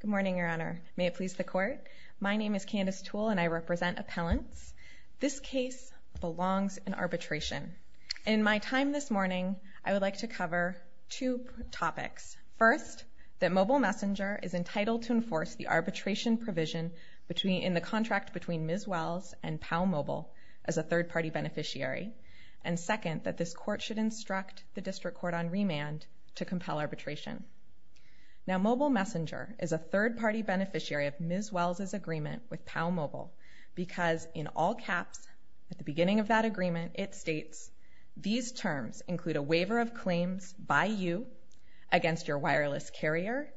Good morning, Your Honor. May it please the Court? My name is Candace Toole and I represent appellants. This case belongs in arbitration. In my time this morning, I would like to cover two topics. First, that Mobile Messenger is entitled to enforce the arbitration provision in the contract between Ms. Wells and Powell Mobile as a third-party beneficiary. And second, that this Court should instruct the District Court on remand to compel arbitration. Now, Mobile Messenger is a third-party beneficiary of Ms. Wells' agreement with Powell Mobile because in all caps, at the beginning of that agreement, it states, these terms include a waiver of claims by you against your wireless carrier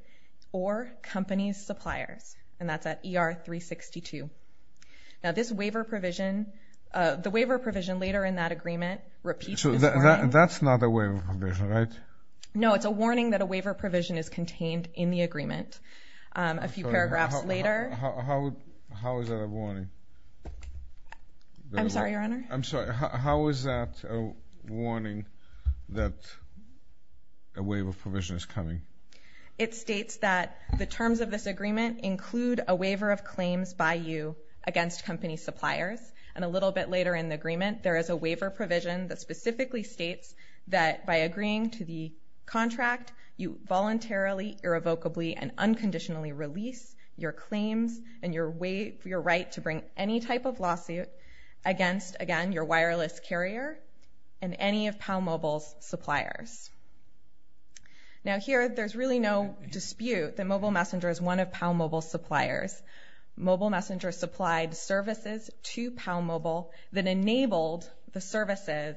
or company's suppliers. And that's at ER-362. Now, this waiver provision, the waiver provision later in that agreement repeats this warning. So that's not a waiver provision, right? No, it's a warning that a waiver provision is contained in the agreement. A few paragraphs later... How is that a warning? I'm sorry, Your Honor. I'm sorry. How is that a warning that a waiver provision is coming? It states that the terms of this agreement include a waiver of claims by you against company suppliers. And a little bit later in the agreement, there is a waiver provision that specifically states that by agreeing to the contract, you voluntarily, irrevocably, and unconditionally release your claims and your right to bring any type of lawsuit against, again, your wireless carrier and any of Powell Mobile's suppliers. Now here, there's really no dispute that Mobile Messenger is one of Powell Mobile's suppliers. Mobile Messenger supplied services to Powell Mobile that enabled the services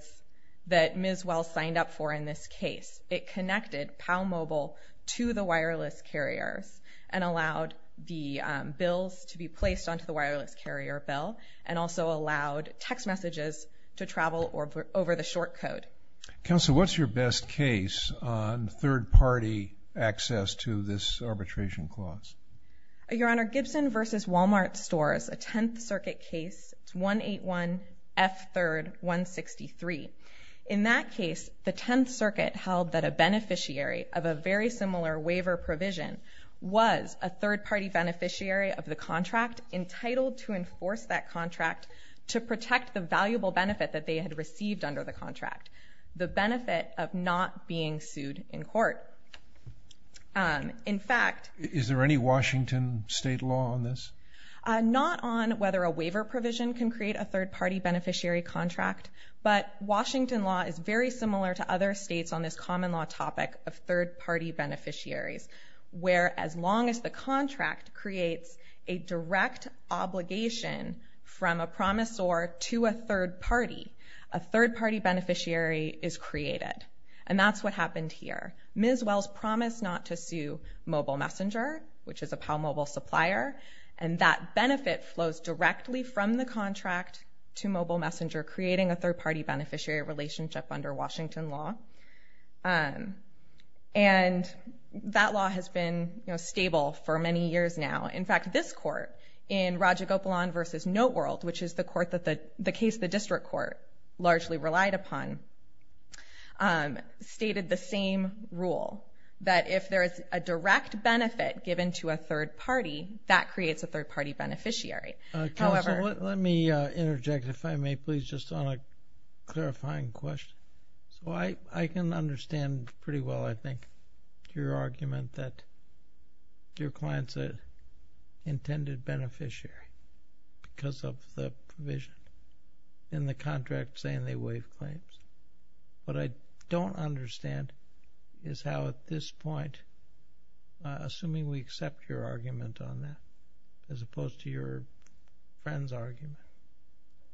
that Ms. Wells signed up for in this case. It connected Powell Mobile to the wireless carriers and allowed the bills to be placed onto the wireless carrier bill and also allowed text messages to travel over the short code. Counselor, what's your best case on third-party access to this arbitration clause? Your Honor, Gibson versus Walmart stores a Tenth Circuit case, it's 181F3163. In that case, the Tenth Circuit held that a beneficiary of a very similar waiver provision was a third-party beneficiary of the contract entitled to enforce that contract to protect the valuable benefit that they had received under the contract, the benefit of not being sued in court. In fact... Is there any Washington state law on this? Not on whether a waiver provision can create a third-party beneficiary contract, but Washington law is very similar to other states on this common law topic of a direct obligation from a promisor to a third party. A third-party beneficiary is created, and that's what happened here. Ms. Wells promised not to sue Mobile Messenger, which is a Powell Mobile supplier, and that benefit flows directly from the contract to Mobile Messenger, creating a third-party beneficiary relationship under Washington law. That law has been stable for many years now. In fact, this court in Raja Gopalan versus Noteworld, which is the case the district court largely relied upon, stated the same rule, that if there is a direct benefit given to a third party, that creates a third-party beneficiary. Counsel, let me interject, if I may, please, just on a clarifying question. I can understand pretty well, I think, your argument that your client's an intended beneficiary because of the provision in the contract saying they waive claims. What I don't understand is how at this point, assuming we accept your argument on that, as opposed to your friend's argument,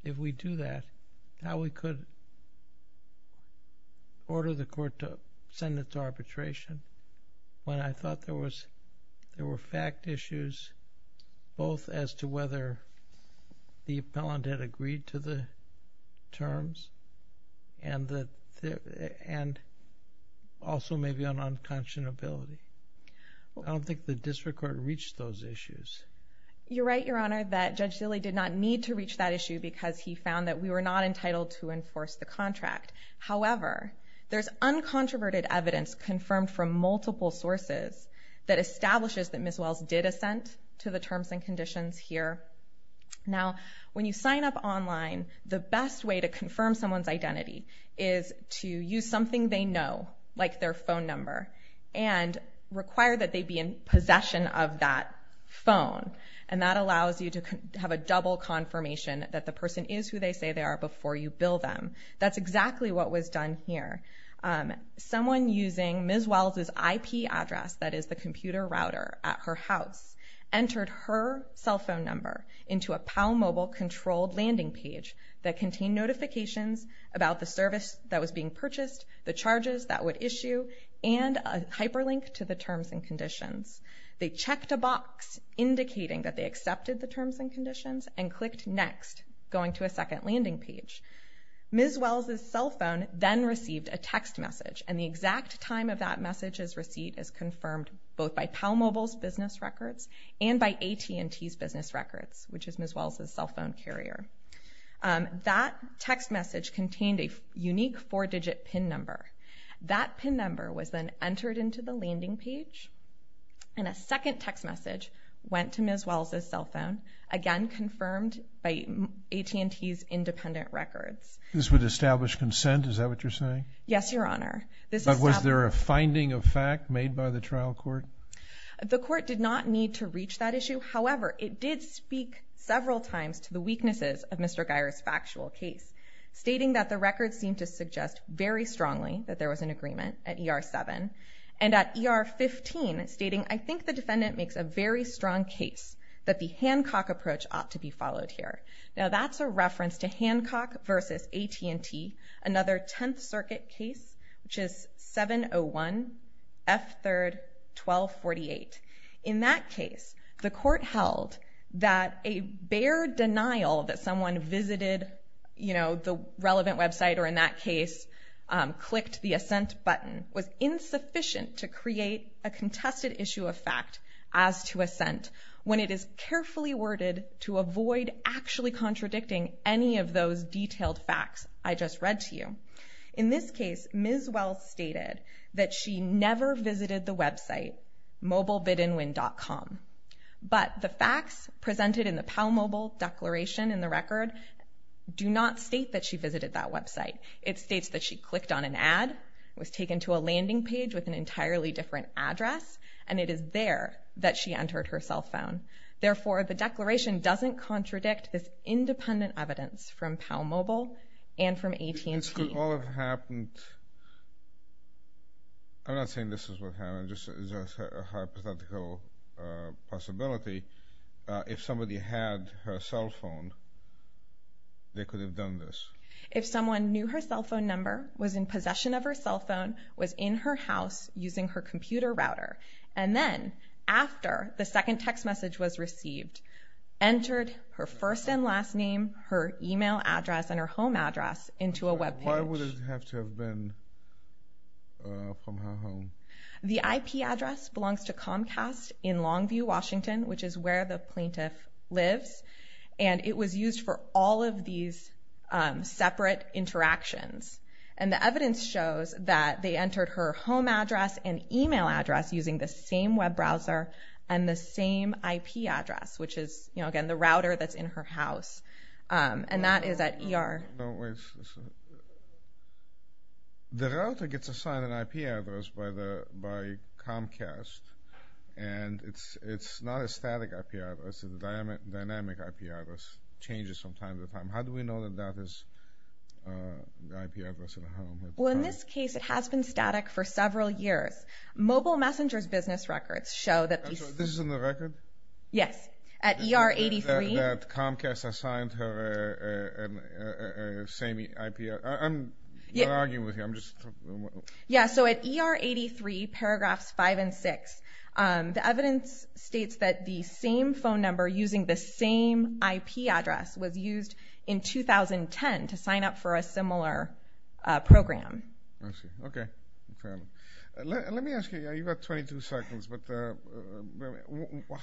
if we do that, how we could order the court to send it to arbitration when I thought there were fact issues, both as to whether the appellant had agreed to the terms, and also maybe on unconscionability. I don't think the district court reached those issues. You're right, Your Honor, that Judge Dilley did not need to reach that issue because he found that we were not entitled to enforce the contract. However, there's uncontroverted evidence confirmed from multiple sources that establishes that Ms. Wells did assent to the terms and conditions here. Now, when you sign up online, the best way to confirm someone's identity is to use something they know, like their phone number, and require that they be in possession of that phone. That allows you to have a double confirmation that the person is who they say they are before you bill them. That's exactly what was done here. Someone using Ms. Wells' IP address, that is the computer router at her house, entered her cell phone number into a PalMobile-controlled landing page that contained notifications about the service that was being purchased, the charges that would issue, and a hyperlink to the terms and conditions. They checked a box indicating that they accepted the terms and conditions and clicked Next, going to a second landing page. Ms. Wells' cell phone then received a text message, and the exact time of that message's receipt is confirmed both by PalMobile's business records and by AT&T's business records, which is Ms. Wells' cell phone carrier. That text message contained a unique four-digit PIN number. That PIN number was then entered into the landing page, and a second text message went to Ms. Wells' cell phone, again confirmed by AT&T's independent records. This would establish consent, is that what you're saying? Yes, Your Honor. But was there a finding of fact made by the trial court? The court did not need to reach that issue. However, it did speak several times to the weaknesses of Mr. Guyer's factual case, stating that the records seemed to suggest very strongly that there was an agreement at ER-7, and at ER-15, stating, I think the defendant makes a very strong case that the Hancock approach ought to be followed here. Now, that's a reference to Hancock v. AT&T, another Tenth Circuit case, which is 701 F. 3rd. 1248. In that case, the court held that a bare denial that someone visited, you know, the relevant website or in that case, clicked the assent button, was insufficient to create a contested issue of fact as to assent, when it is carefully worded to avoid actually contradicting any of those detailed facts I just read to you. In this case, Ms. Wells stated that she never visited the website, MobileBidAndWin.com, but the facts presented in the PalMobile declaration in the record do not state that she visited that website. It states that she clicked on an ad, was taken to a landing page with an entirely different address, and it is there that she entered her cell phone. Therefore, the declaration doesn't contradict this independent evidence from PalMobile and from AT&T. This could all have happened, I'm not saying this is what happened, just a hypothetical possibility. If somebody had her cell phone, they could have done this. If someone knew her cell phone number, was in possession of her cell phone, was in her house using her computer router, and then, after the second text message was received, entered her first and last name, her email address, and her home address into a webpage. Why would it have to have been from her home? The IP address belongs to Comcast in Longview, Washington, which is where the plaintiff lives, and it was used for all of these separate interactions. And the evidence shows that they entered her home address and email address using the same web browser and the same IP address, which is, again, the router that's in her house. And that is at ER. The router gets assigned an IP address by Comcast, and it's not a static IP address, it's a dynamic IP address, changes from time to time. How do we know that that is the IP address of the home? Well, in this case, it has been static for several years. Mobile Messenger's business records show that these... This is in the record? Yes. At ER 83... That Comcast assigned her the same IP address. I'm not arguing with you, I'm just... Yeah, so at ER 83, paragraphs 5 and 6, the evidence states that the same phone number using the same IP address was used in 2010 to sign up for a similar program. Okay. Let me ask you, you've got 22 seconds, but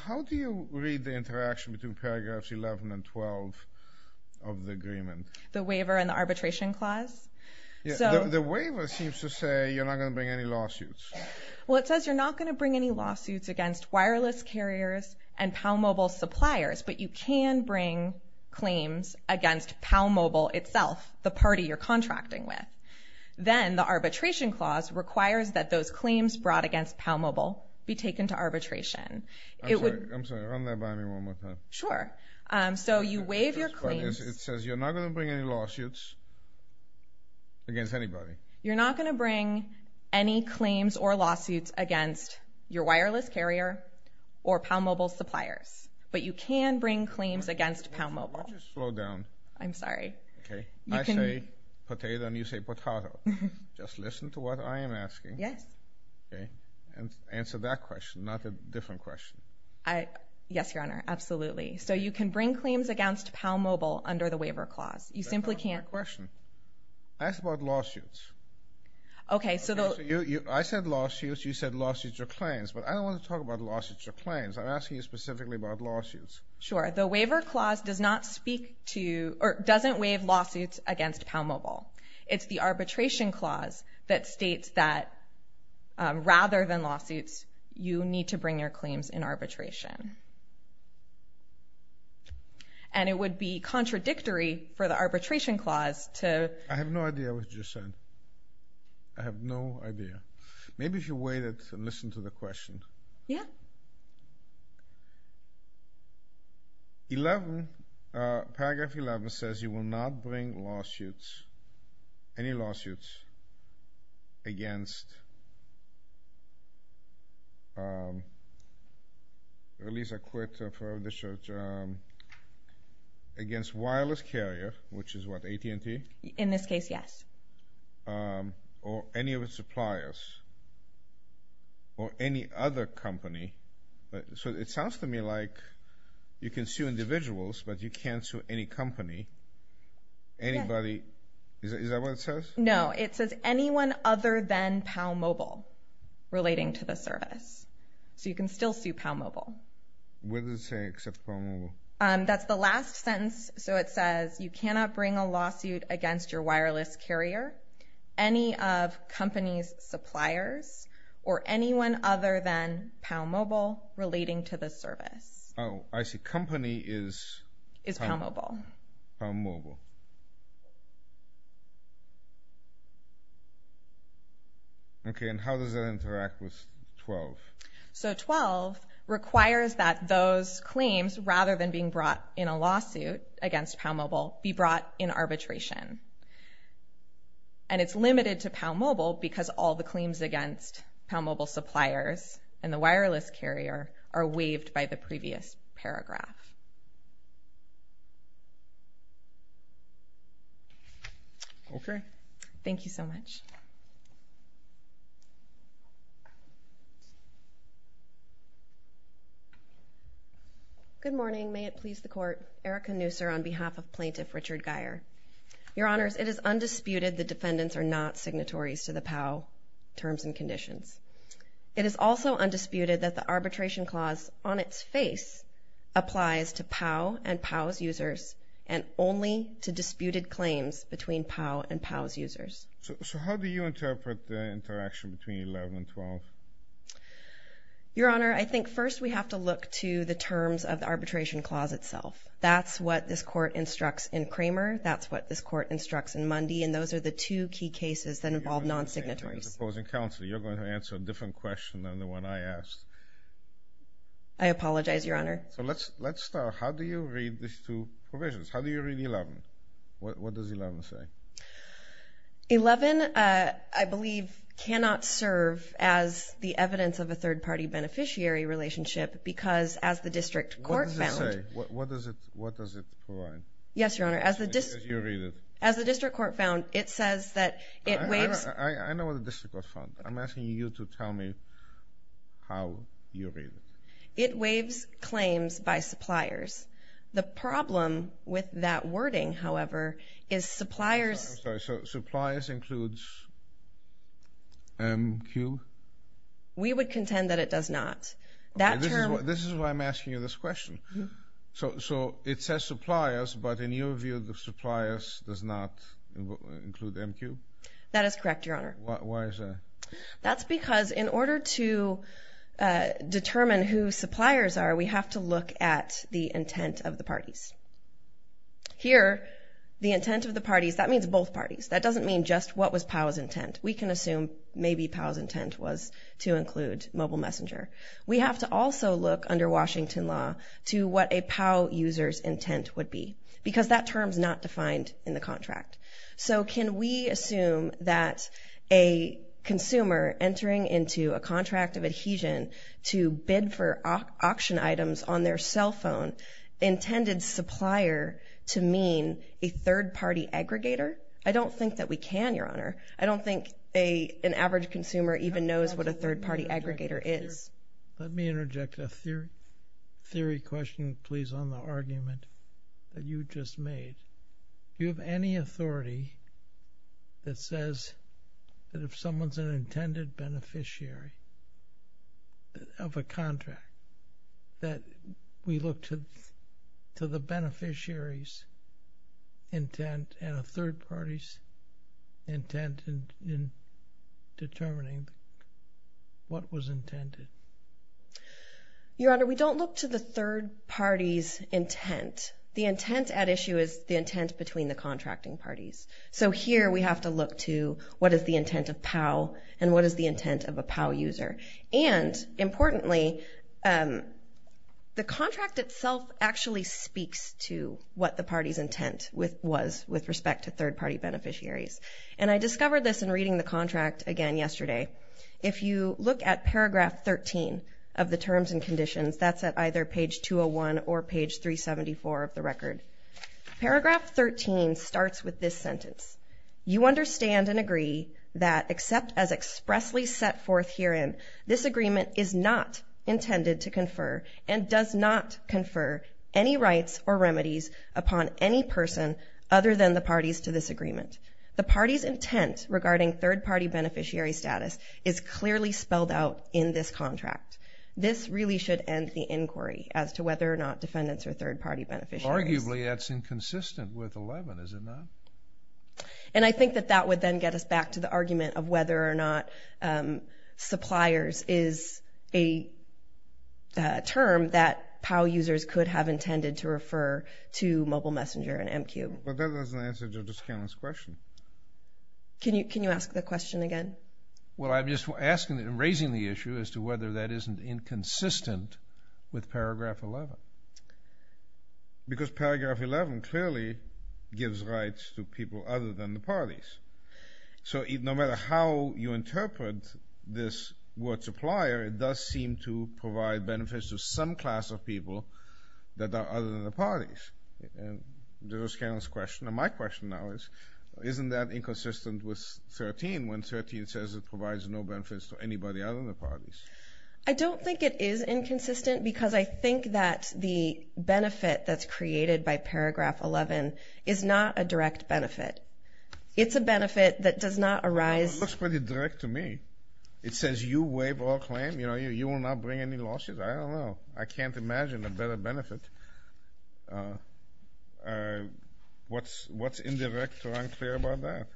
how do you read the interaction between paragraphs 11 and 12 of the agreement? The waiver and the arbitration clause? The waiver seems to say you're not going to bring any lawsuits. Well, it says you're not going to bring any lawsuits against wireless carriers and PalMobile suppliers, but you can bring claims against PalMobile itself, the party you're contracting with. Then the arbitration clause requires that those claims brought against PalMobile be taken to arbitration. I'm sorry, run that by me one more time. Sure. So you waive your claims... It says you're not going to bring any lawsuits against anybody. You're not going to bring any claims or lawsuits against your wireless carrier or PalMobile suppliers, but you can bring claims against PalMobile. Why don't you slow down? I'm sorry. Okay. I say potato and you say potahto. Just listen to what I am asking. Yes. Okay. And answer that question, not a different question. Yes, Your Honor. Absolutely. So you can bring claims against PalMobile under the waiver clause. You simply can't... That's not my question. Ask about lawsuits. Okay, so the... I said lawsuits, you said lawsuits or claims, but I don't want to talk about lawsuits or claims. I'm asking you specifically about lawsuits. Sure. The waiver clause does not speak to or doesn't waive lawsuits against PalMobile. It's the arbitration clause that states that rather than lawsuits, you need to bring your claims in arbitration. And it would be contradictory for the arbitration clause to... I have no idea what you just said. I have no idea. Maybe if you waited and listened to the question. Yeah. 11, paragraph 11 says you will not bring lawsuits, any lawsuits against... At least I quit. Against wireless carrier, which is what, AT&T? In this case, yes. ...or any of its suppliers or any other company. So it sounds to me like you can sue individuals, but you can't sue any company, anybody. Is that what it says? No, it says anyone other than PalMobile relating to the service. So you can still sue PalMobile. What does it say except PalMobile? That's the last sentence. So it says you cannot bring a lawsuit against your wireless carrier, any of company's suppliers, or anyone other than PalMobile relating to the service. Oh, I see. Company is... Is PalMobile. PalMobile. Okay. And how does that interact with 12? So 12 requires that those claims, rather than being brought in a lawsuit against PalMobile, be brought in arbitration. And it's limited to PalMobile because all the claims against PalMobile suppliers and the wireless carrier are waived by the previous paragraph. Okay. Thank you so much. Good morning. May it please the Court. Erica Nooser on behalf of Plaintiff Richard Geyer. Your Honors, it is undisputed the defendants are not signatories to the POW terms and conditions. It is also undisputed that the arbitration clause on its face applies to POW and POW's users and only to disputed claims between POW and POW's users. So how do you interpret the interaction between 11 and 12? Your Honor, I think first we have to look to the terms of the arbitration clause itself. That's what this Court instructs in Kramer. That's what this Court instructs in Mundy. And those are the two key cases that involve non-signatories. You're going to answer a different question than the one I asked. I apologize, Your Honor. So let's start. How do you read these two provisions? How do you read 11? What does 11 say? 11, I believe, cannot serve as the evidence of a third-party beneficiary relationship because as the District Court found— What does it say? What does it provide? Yes, Your Honor. As the District Court found, it says that it waives— I know what the District Court found. I'm asking you to tell me how you read it. It waives claims by suppliers. The problem with that wording, however, is suppliers— I'm sorry. So suppliers includes MQ? We would contend that it does not. This is why I'm asking you this question. So it says suppliers, but in your view, the suppliers does not include MQ? That is correct, Your Honor. Why is that? That's because in order to determine who suppliers are, we have to look at the intent of the parties. Here, the intent of the parties, that means both parties. That doesn't mean just what was POW's intent. We can assume maybe POW's intent was to include Mobile Messenger. We have to also look under Washington law to what a POW user's intent would be because that term's not defined in the contract. So can we assume that a consumer entering into a contract of adhesion to bid for auction items on their cell phone intended supplier to mean a third-party aggregator? I don't think that we can, Your Honor. I don't think an average consumer even knows what a third-party aggregator is. Let me interject a theory question, please, on the argument that you just made. Do you have any authority that says that if someone's an intended beneficiary of a contract that we look to the beneficiary's intent and a third party's intent in determining what was intended? Your Honor, we don't look to the third party's intent. The intent at issue is the intent between the contracting parties. So here we have to look to what is the intent of POW and what is the intent of a POW user. And importantly, the contract itself actually speaks to what the party's intent was with respect to third-party beneficiaries. And I discovered this in reading the contract again yesterday. If you look at paragraph 13 of the terms and conditions, that's at either page 201 or page 374 of the record. Paragraph 13 starts with this sentence. You understand and agree that except as expressly set forth herein, this agreement is not intended to confer and does not confer any rights or remedies upon any person other than the parties to this agreement. The party's intent regarding third-party beneficiary status is clearly spelled out in this contract. This really should end the inquiry as to whether or not defendants are third-party beneficiaries. Arguably, that's inconsistent with 11, is it not? And I think that that would then get us back to the argument of whether or not suppliers is a term that POW users could have intended to refer to Mobile Messenger and MQ. But that doesn't answer Judge O'Scanlon's question. Can you ask the question again? Well, I'm just asking and raising the issue as to whether that isn't inconsistent with paragraph 11. Because paragraph 11 clearly gives rights to people other than the parties. So no matter how you interpret this word supplier, it does seem to provide benefits to some class of people that are other than the parties. That was O'Scanlon's question. And my question now is, isn't that inconsistent with 13, when 13 says it provides no benefits to anybody other than the parties? I don't think it is inconsistent because I think that the benefit that's created by paragraph 11 is not a direct benefit. It's a benefit that does not arise. Well, it looks pretty direct to me. It says you waive all claim. You will not bring any lawsuits. I don't know. I can't imagine a better benefit. What's indirect or unclear about that?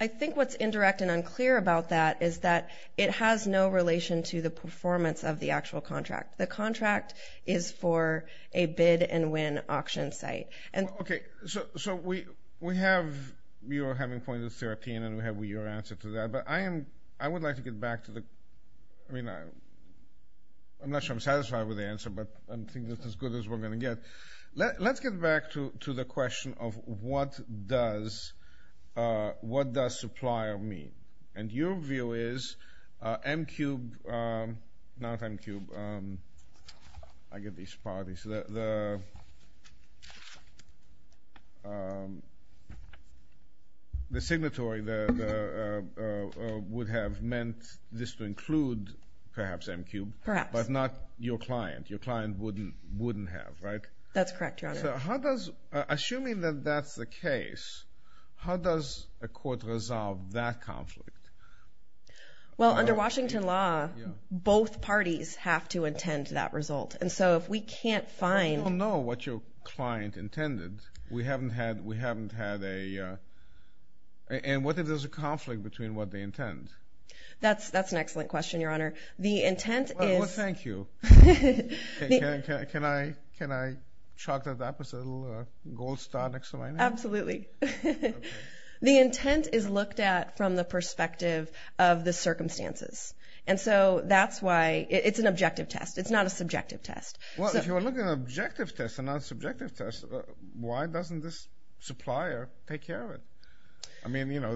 I think what's indirect and unclear about that is that it has no relation to the performance of the actual contract. The contract is for a bid and win auction site. Okay. So we have your having point of 13 and we have your answer to that. But I would like to get back to the question. I mean, I'm not sure I'm satisfied with the answer, but I think that's as good as we're going to get. Let's get back to the question of what does supplier mean. And your view is MQ, not MQ, I get these parties. The signatory would have meant this to include perhaps MQ. Perhaps. But not your client. Your client wouldn't have, right? That's correct, Your Honor. Assuming that that's the case, how does a court resolve that conflict? Well, under Washington law, both parties have to intend that result. And so if we can't find – We don't know what your client intended. We haven't had a – and what if there's a conflict between what they intend? That's an excellent question, Your Honor. The intent is – Well, thank you. Can I chalk that up as a little gold star next to my name? Absolutely. The intent is looked at from the perspective of the circumstances. And so that's why – it's an objective test. It's not a subjective test. Well, if you're looking at an objective test and not a subjective test, why doesn't this supplier take care of it? I mean, you know,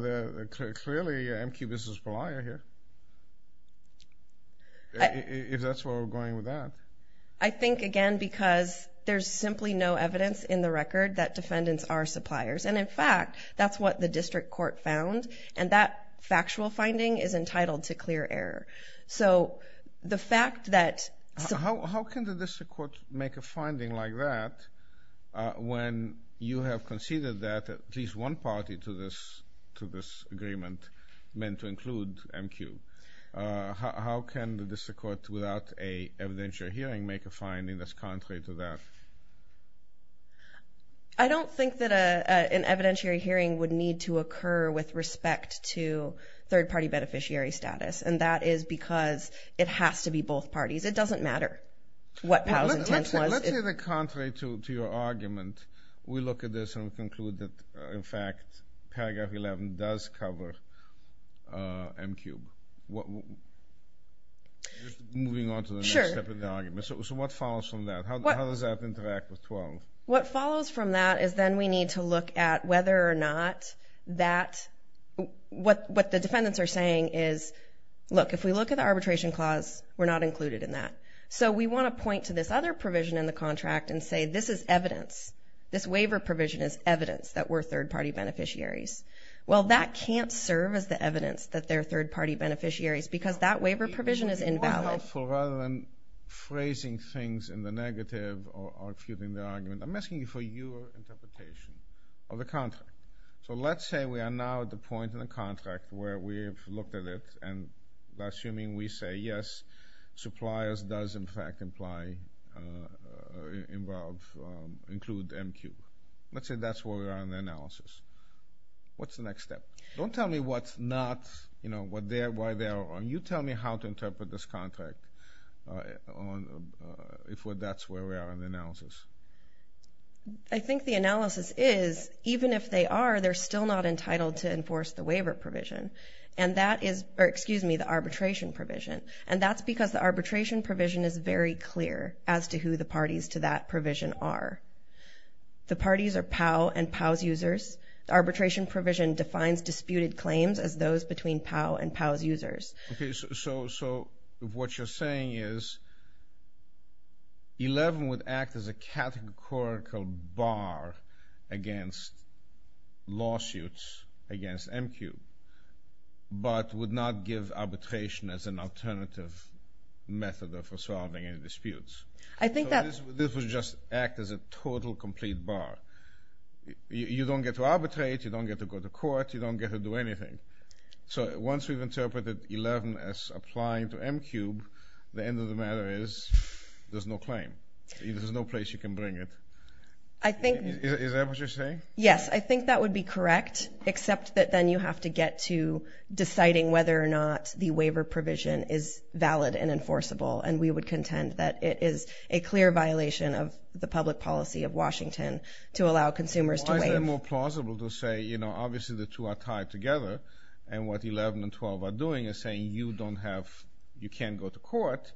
clearly MQ v. Pelaya here. If that's where we're going with that. I think, again, because there's simply no evidence in the record that defendants are suppliers. And, in fact, that's what the district court found. And that factual finding is entitled to clear error. So the fact that – How can the district court make a finding like that when you have conceded that at least one party to this agreement meant to include MQ? How can the district court, without an evidentiary hearing, make a finding that's contrary to that? I don't think that an evidentiary hearing would need to occur with respect to third-party beneficiary status. And that is because it has to be both parties. It doesn't matter what Powell's intent was. Let's say they're contrary to your argument. We look at this and we conclude that, in fact, paragraph 11 does cover MQ. Moving on to the next step of the argument. So what follows from that? How does that interact with 12? What follows from that is then we need to look at whether or not that – what the defendants are saying is, look, if we look at the arbitration clause, we're not included in that. So we want to point to this other provision in the contract and say, this is evidence. This waiver provision is evidence that we're third-party beneficiaries. Well, that can't serve as the evidence that they're third-party beneficiaries because that waiver provision is invalid. Rather than phrasing things in the negative or refuting the argument, I'm asking you for your interpretation of the contract. So let's say we are now at the point in the contract where we have looked at it and assuming we say, yes, suppliers does, in fact, include MQ. Let's say that's where we are in the analysis. What's the next step? Don't tell me what's not, you know, why they are wrong. You tell me how to interpret this contract if that's where we are in the analysis. I think the analysis is, even if they are, they're still not entitled to enforce the waiver provision. And that is the arbitration provision. And that's because the arbitration provision is very clear as to who the parties to that provision are. The parties are POW and POW's users. The arbitration provision defines disputed claims as those between POW and POW's users. Okay. So what you're saying is 11 would act as a categorical bar against lawsuits against MQ but would not give arbitration as an alternative method of resolving any disputes. So this would just act as a total complete bar. You don't get to arbitrate. You don't get to go to court. You don't get to do anything. So once we've interpreted 11 as applying to MQ, the end of the matter is there's no claim. There's no place you can bring it. Is that what you're saying? Yes, I think that would be correct, except that then you have to get to deciding whether or not the waiver provision is valid and enforceable. And we would contend that it is a clear violation of the public policy of Washington to allow consumers to waive. It would be more plausible to say, you know, obviously the two are tied together, and what 11 and 12 are doing is saying you can't go to court,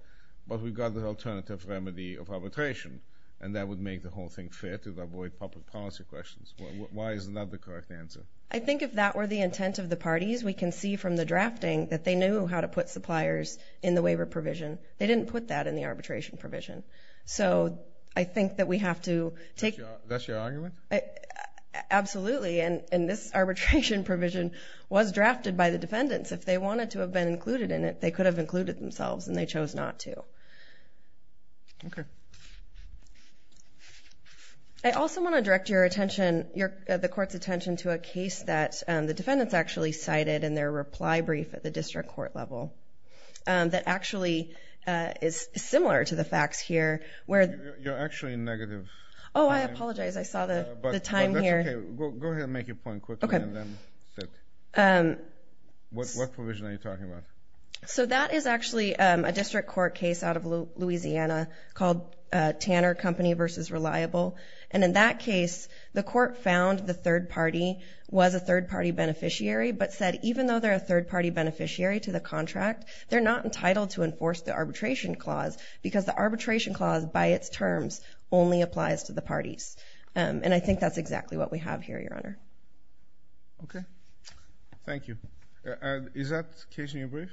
but we've got the alternative remedy of arbitration, and that would make the whole thing fair to avoid public policy questions. Why is that the correct answer? I think if that were the intent of the parties, we can see from the drafting that they knew how to put suppliers in the waiver provision. They didn't put that in the arbitration provision. So I think that we have to take— Absolutely, and this arbitration provision was drafted by the defendants. If they wanted to have been included in it, they could have included themselves, and they chose not to. Okay. I also want to direct your attention, the court's attention, to a case that the defendants actually cited in their reply brief at the district court level that actually is similar to the facts here. You're actually negative. Oh, I apologize. I saw the time here. That's okay. Go ahead and make your point quickly, and then sit. What provision are you talking about? So that is actually a district court case out of Louisiana called Tanner Company v. Reliable, and in that case the court found the third party was a third-party beneficiary but said even though they're a third-party beneficiary to the contract, they're not entitled to enforce the arbitration clause because the arbitration clause by its terms only applies to the parties, and I think that's exactly what we have here, Your Honor. Okay. Thank you. Is that case in your brief?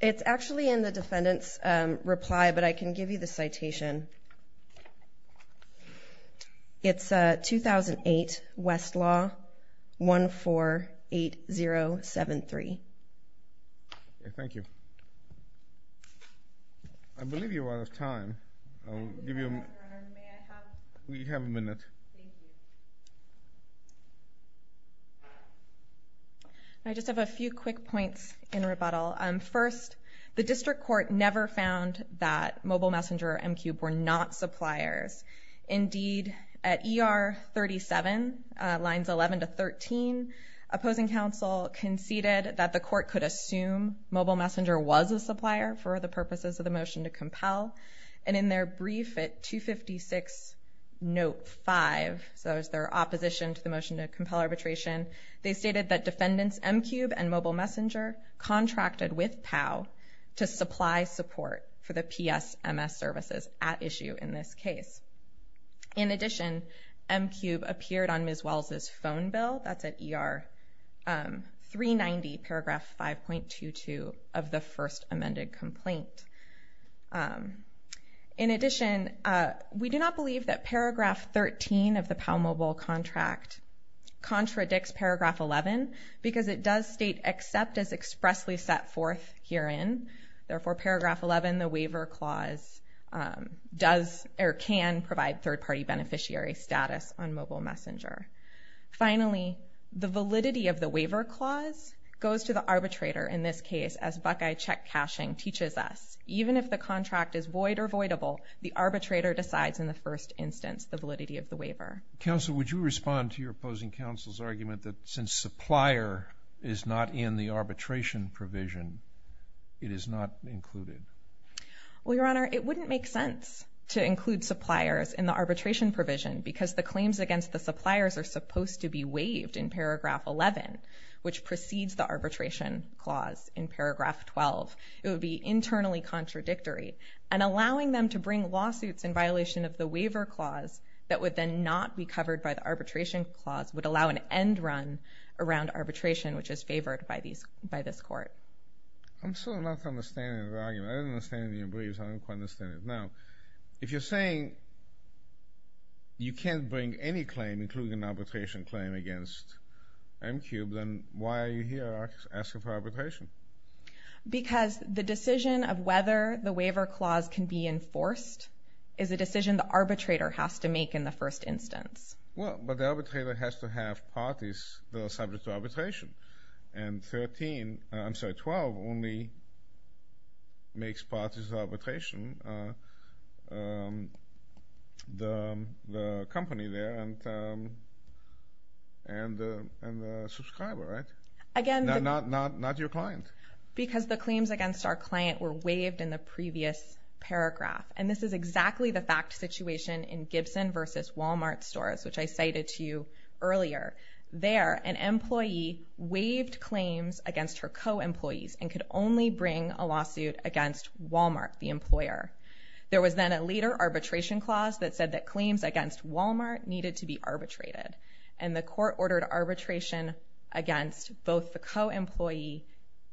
It's actually in the defendant's reply, but I can give you the citation. It's 2008, Westlaw 148073. Thank you. I believe you're out of time. I'll give you a minute. We have a minute. Thank you. I just have a few quick points in rebuttal. First, the district court never found that Mobile Messenger or M-Cube were not suppliers. Indeed, at ER 37, lines 11 to 13, opposing counsel conceded that the court could assume Mobile Messenger was a supplier for the purposes of the motion to compel, and in their brief at 256 note 5, so that was their opposition to the motion to compel arbitration, they stated that defendants M-Cube and Mobile Messenger contracted with POW to supply support for the PSMS services at issue in this case. In addition, M-Cube appeared on Ms. Wells' phone bill, that's at ER 390, paragraph 5.22, of the first amended complaint. In addition, we do not believe that paragraph 13 of the POW-Mobile contract contradicts paragraph 11 because it does state, except as expressly set forth herein, therefore paragraph 11, the waiver clause, does or can provide third-party beneficiary status on Mobile Messenger. Finally, the validity of the waiver clause goes to the arbitrator in this case, as Buckeye check cashing teaches us. Even if the contract is void or voidable, the arbitrator decides in the first instance the validity of the waiver. Counsel, would you respond to your opposing counsel's argument that since supplier is not in the arbitration provision, it is not included? Well, Your Honor, it wouldn't make sense to include suppliers in the arbitration provision because the claims against the suppliers are supposed to be waived in paragraph 11, which precedes the arbitration clause in paragraph 12. It would be internally contradictory, and allowing them to bring lawsuits in violation of the waiver clause that would then not be covered by the arbitration clause would allow an end run around arbitration, which is favored by this court. I'm still not understanding your argument. I didn't understand it in your briefs. I don't quite understand it now. If you're saying you can't bring any claim, including an arbitration claim, against MQ, then why are you here asking for arbitration? Because the decision of whether the waiver clause can be enforced is a decision the arbitrator has to make in the first instance. Well, but the arbitrator has to have parties that are subject to arbitration, and 12 only makes parties to arbitration the company there and the subscriber, right? Not your client. Because the claims against our client were waived in the previous paragraph, and this is exactly the fact situation in Gibson versus Walmart stores, which I cited to you earlier. There, an employee waived claims against her co-employees and could only bring a lawsuit against Walmart, the employer. There was then a later arbitration clause that said that claims against Walmart needed to be arbitrated, and the court ordered arbitration against both the co-employee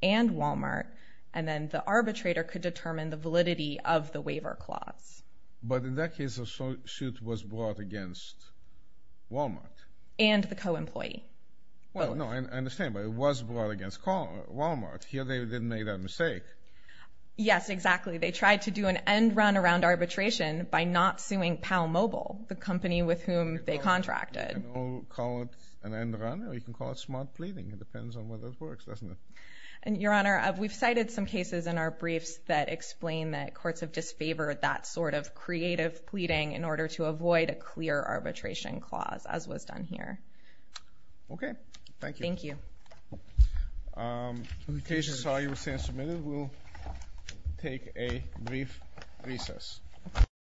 and Walmart, and then the arbitrator could determine the validity of the waiver clause. But in that case, a lawsuit was brought against Walmart. And the co-employee. Well, no, I understand, but it was brought against Walmart. Here they didn't make that mistake. Yes, exactly. They tried to do an end run around arbitration by not suing PalMobile, the company with whom they contracted. Or call it an end run, or you can call it smart pleading. It depends on whether it works, doesn't it? Your Honor, we've cited some cases in our briefs that explain that courts have disfavored that sort of creative pleading in order to avoid a clear arbitration clause, as was done here. Okay. Thank you. Thank you. The cases are, you will see, submitted. We'll take a brief recess.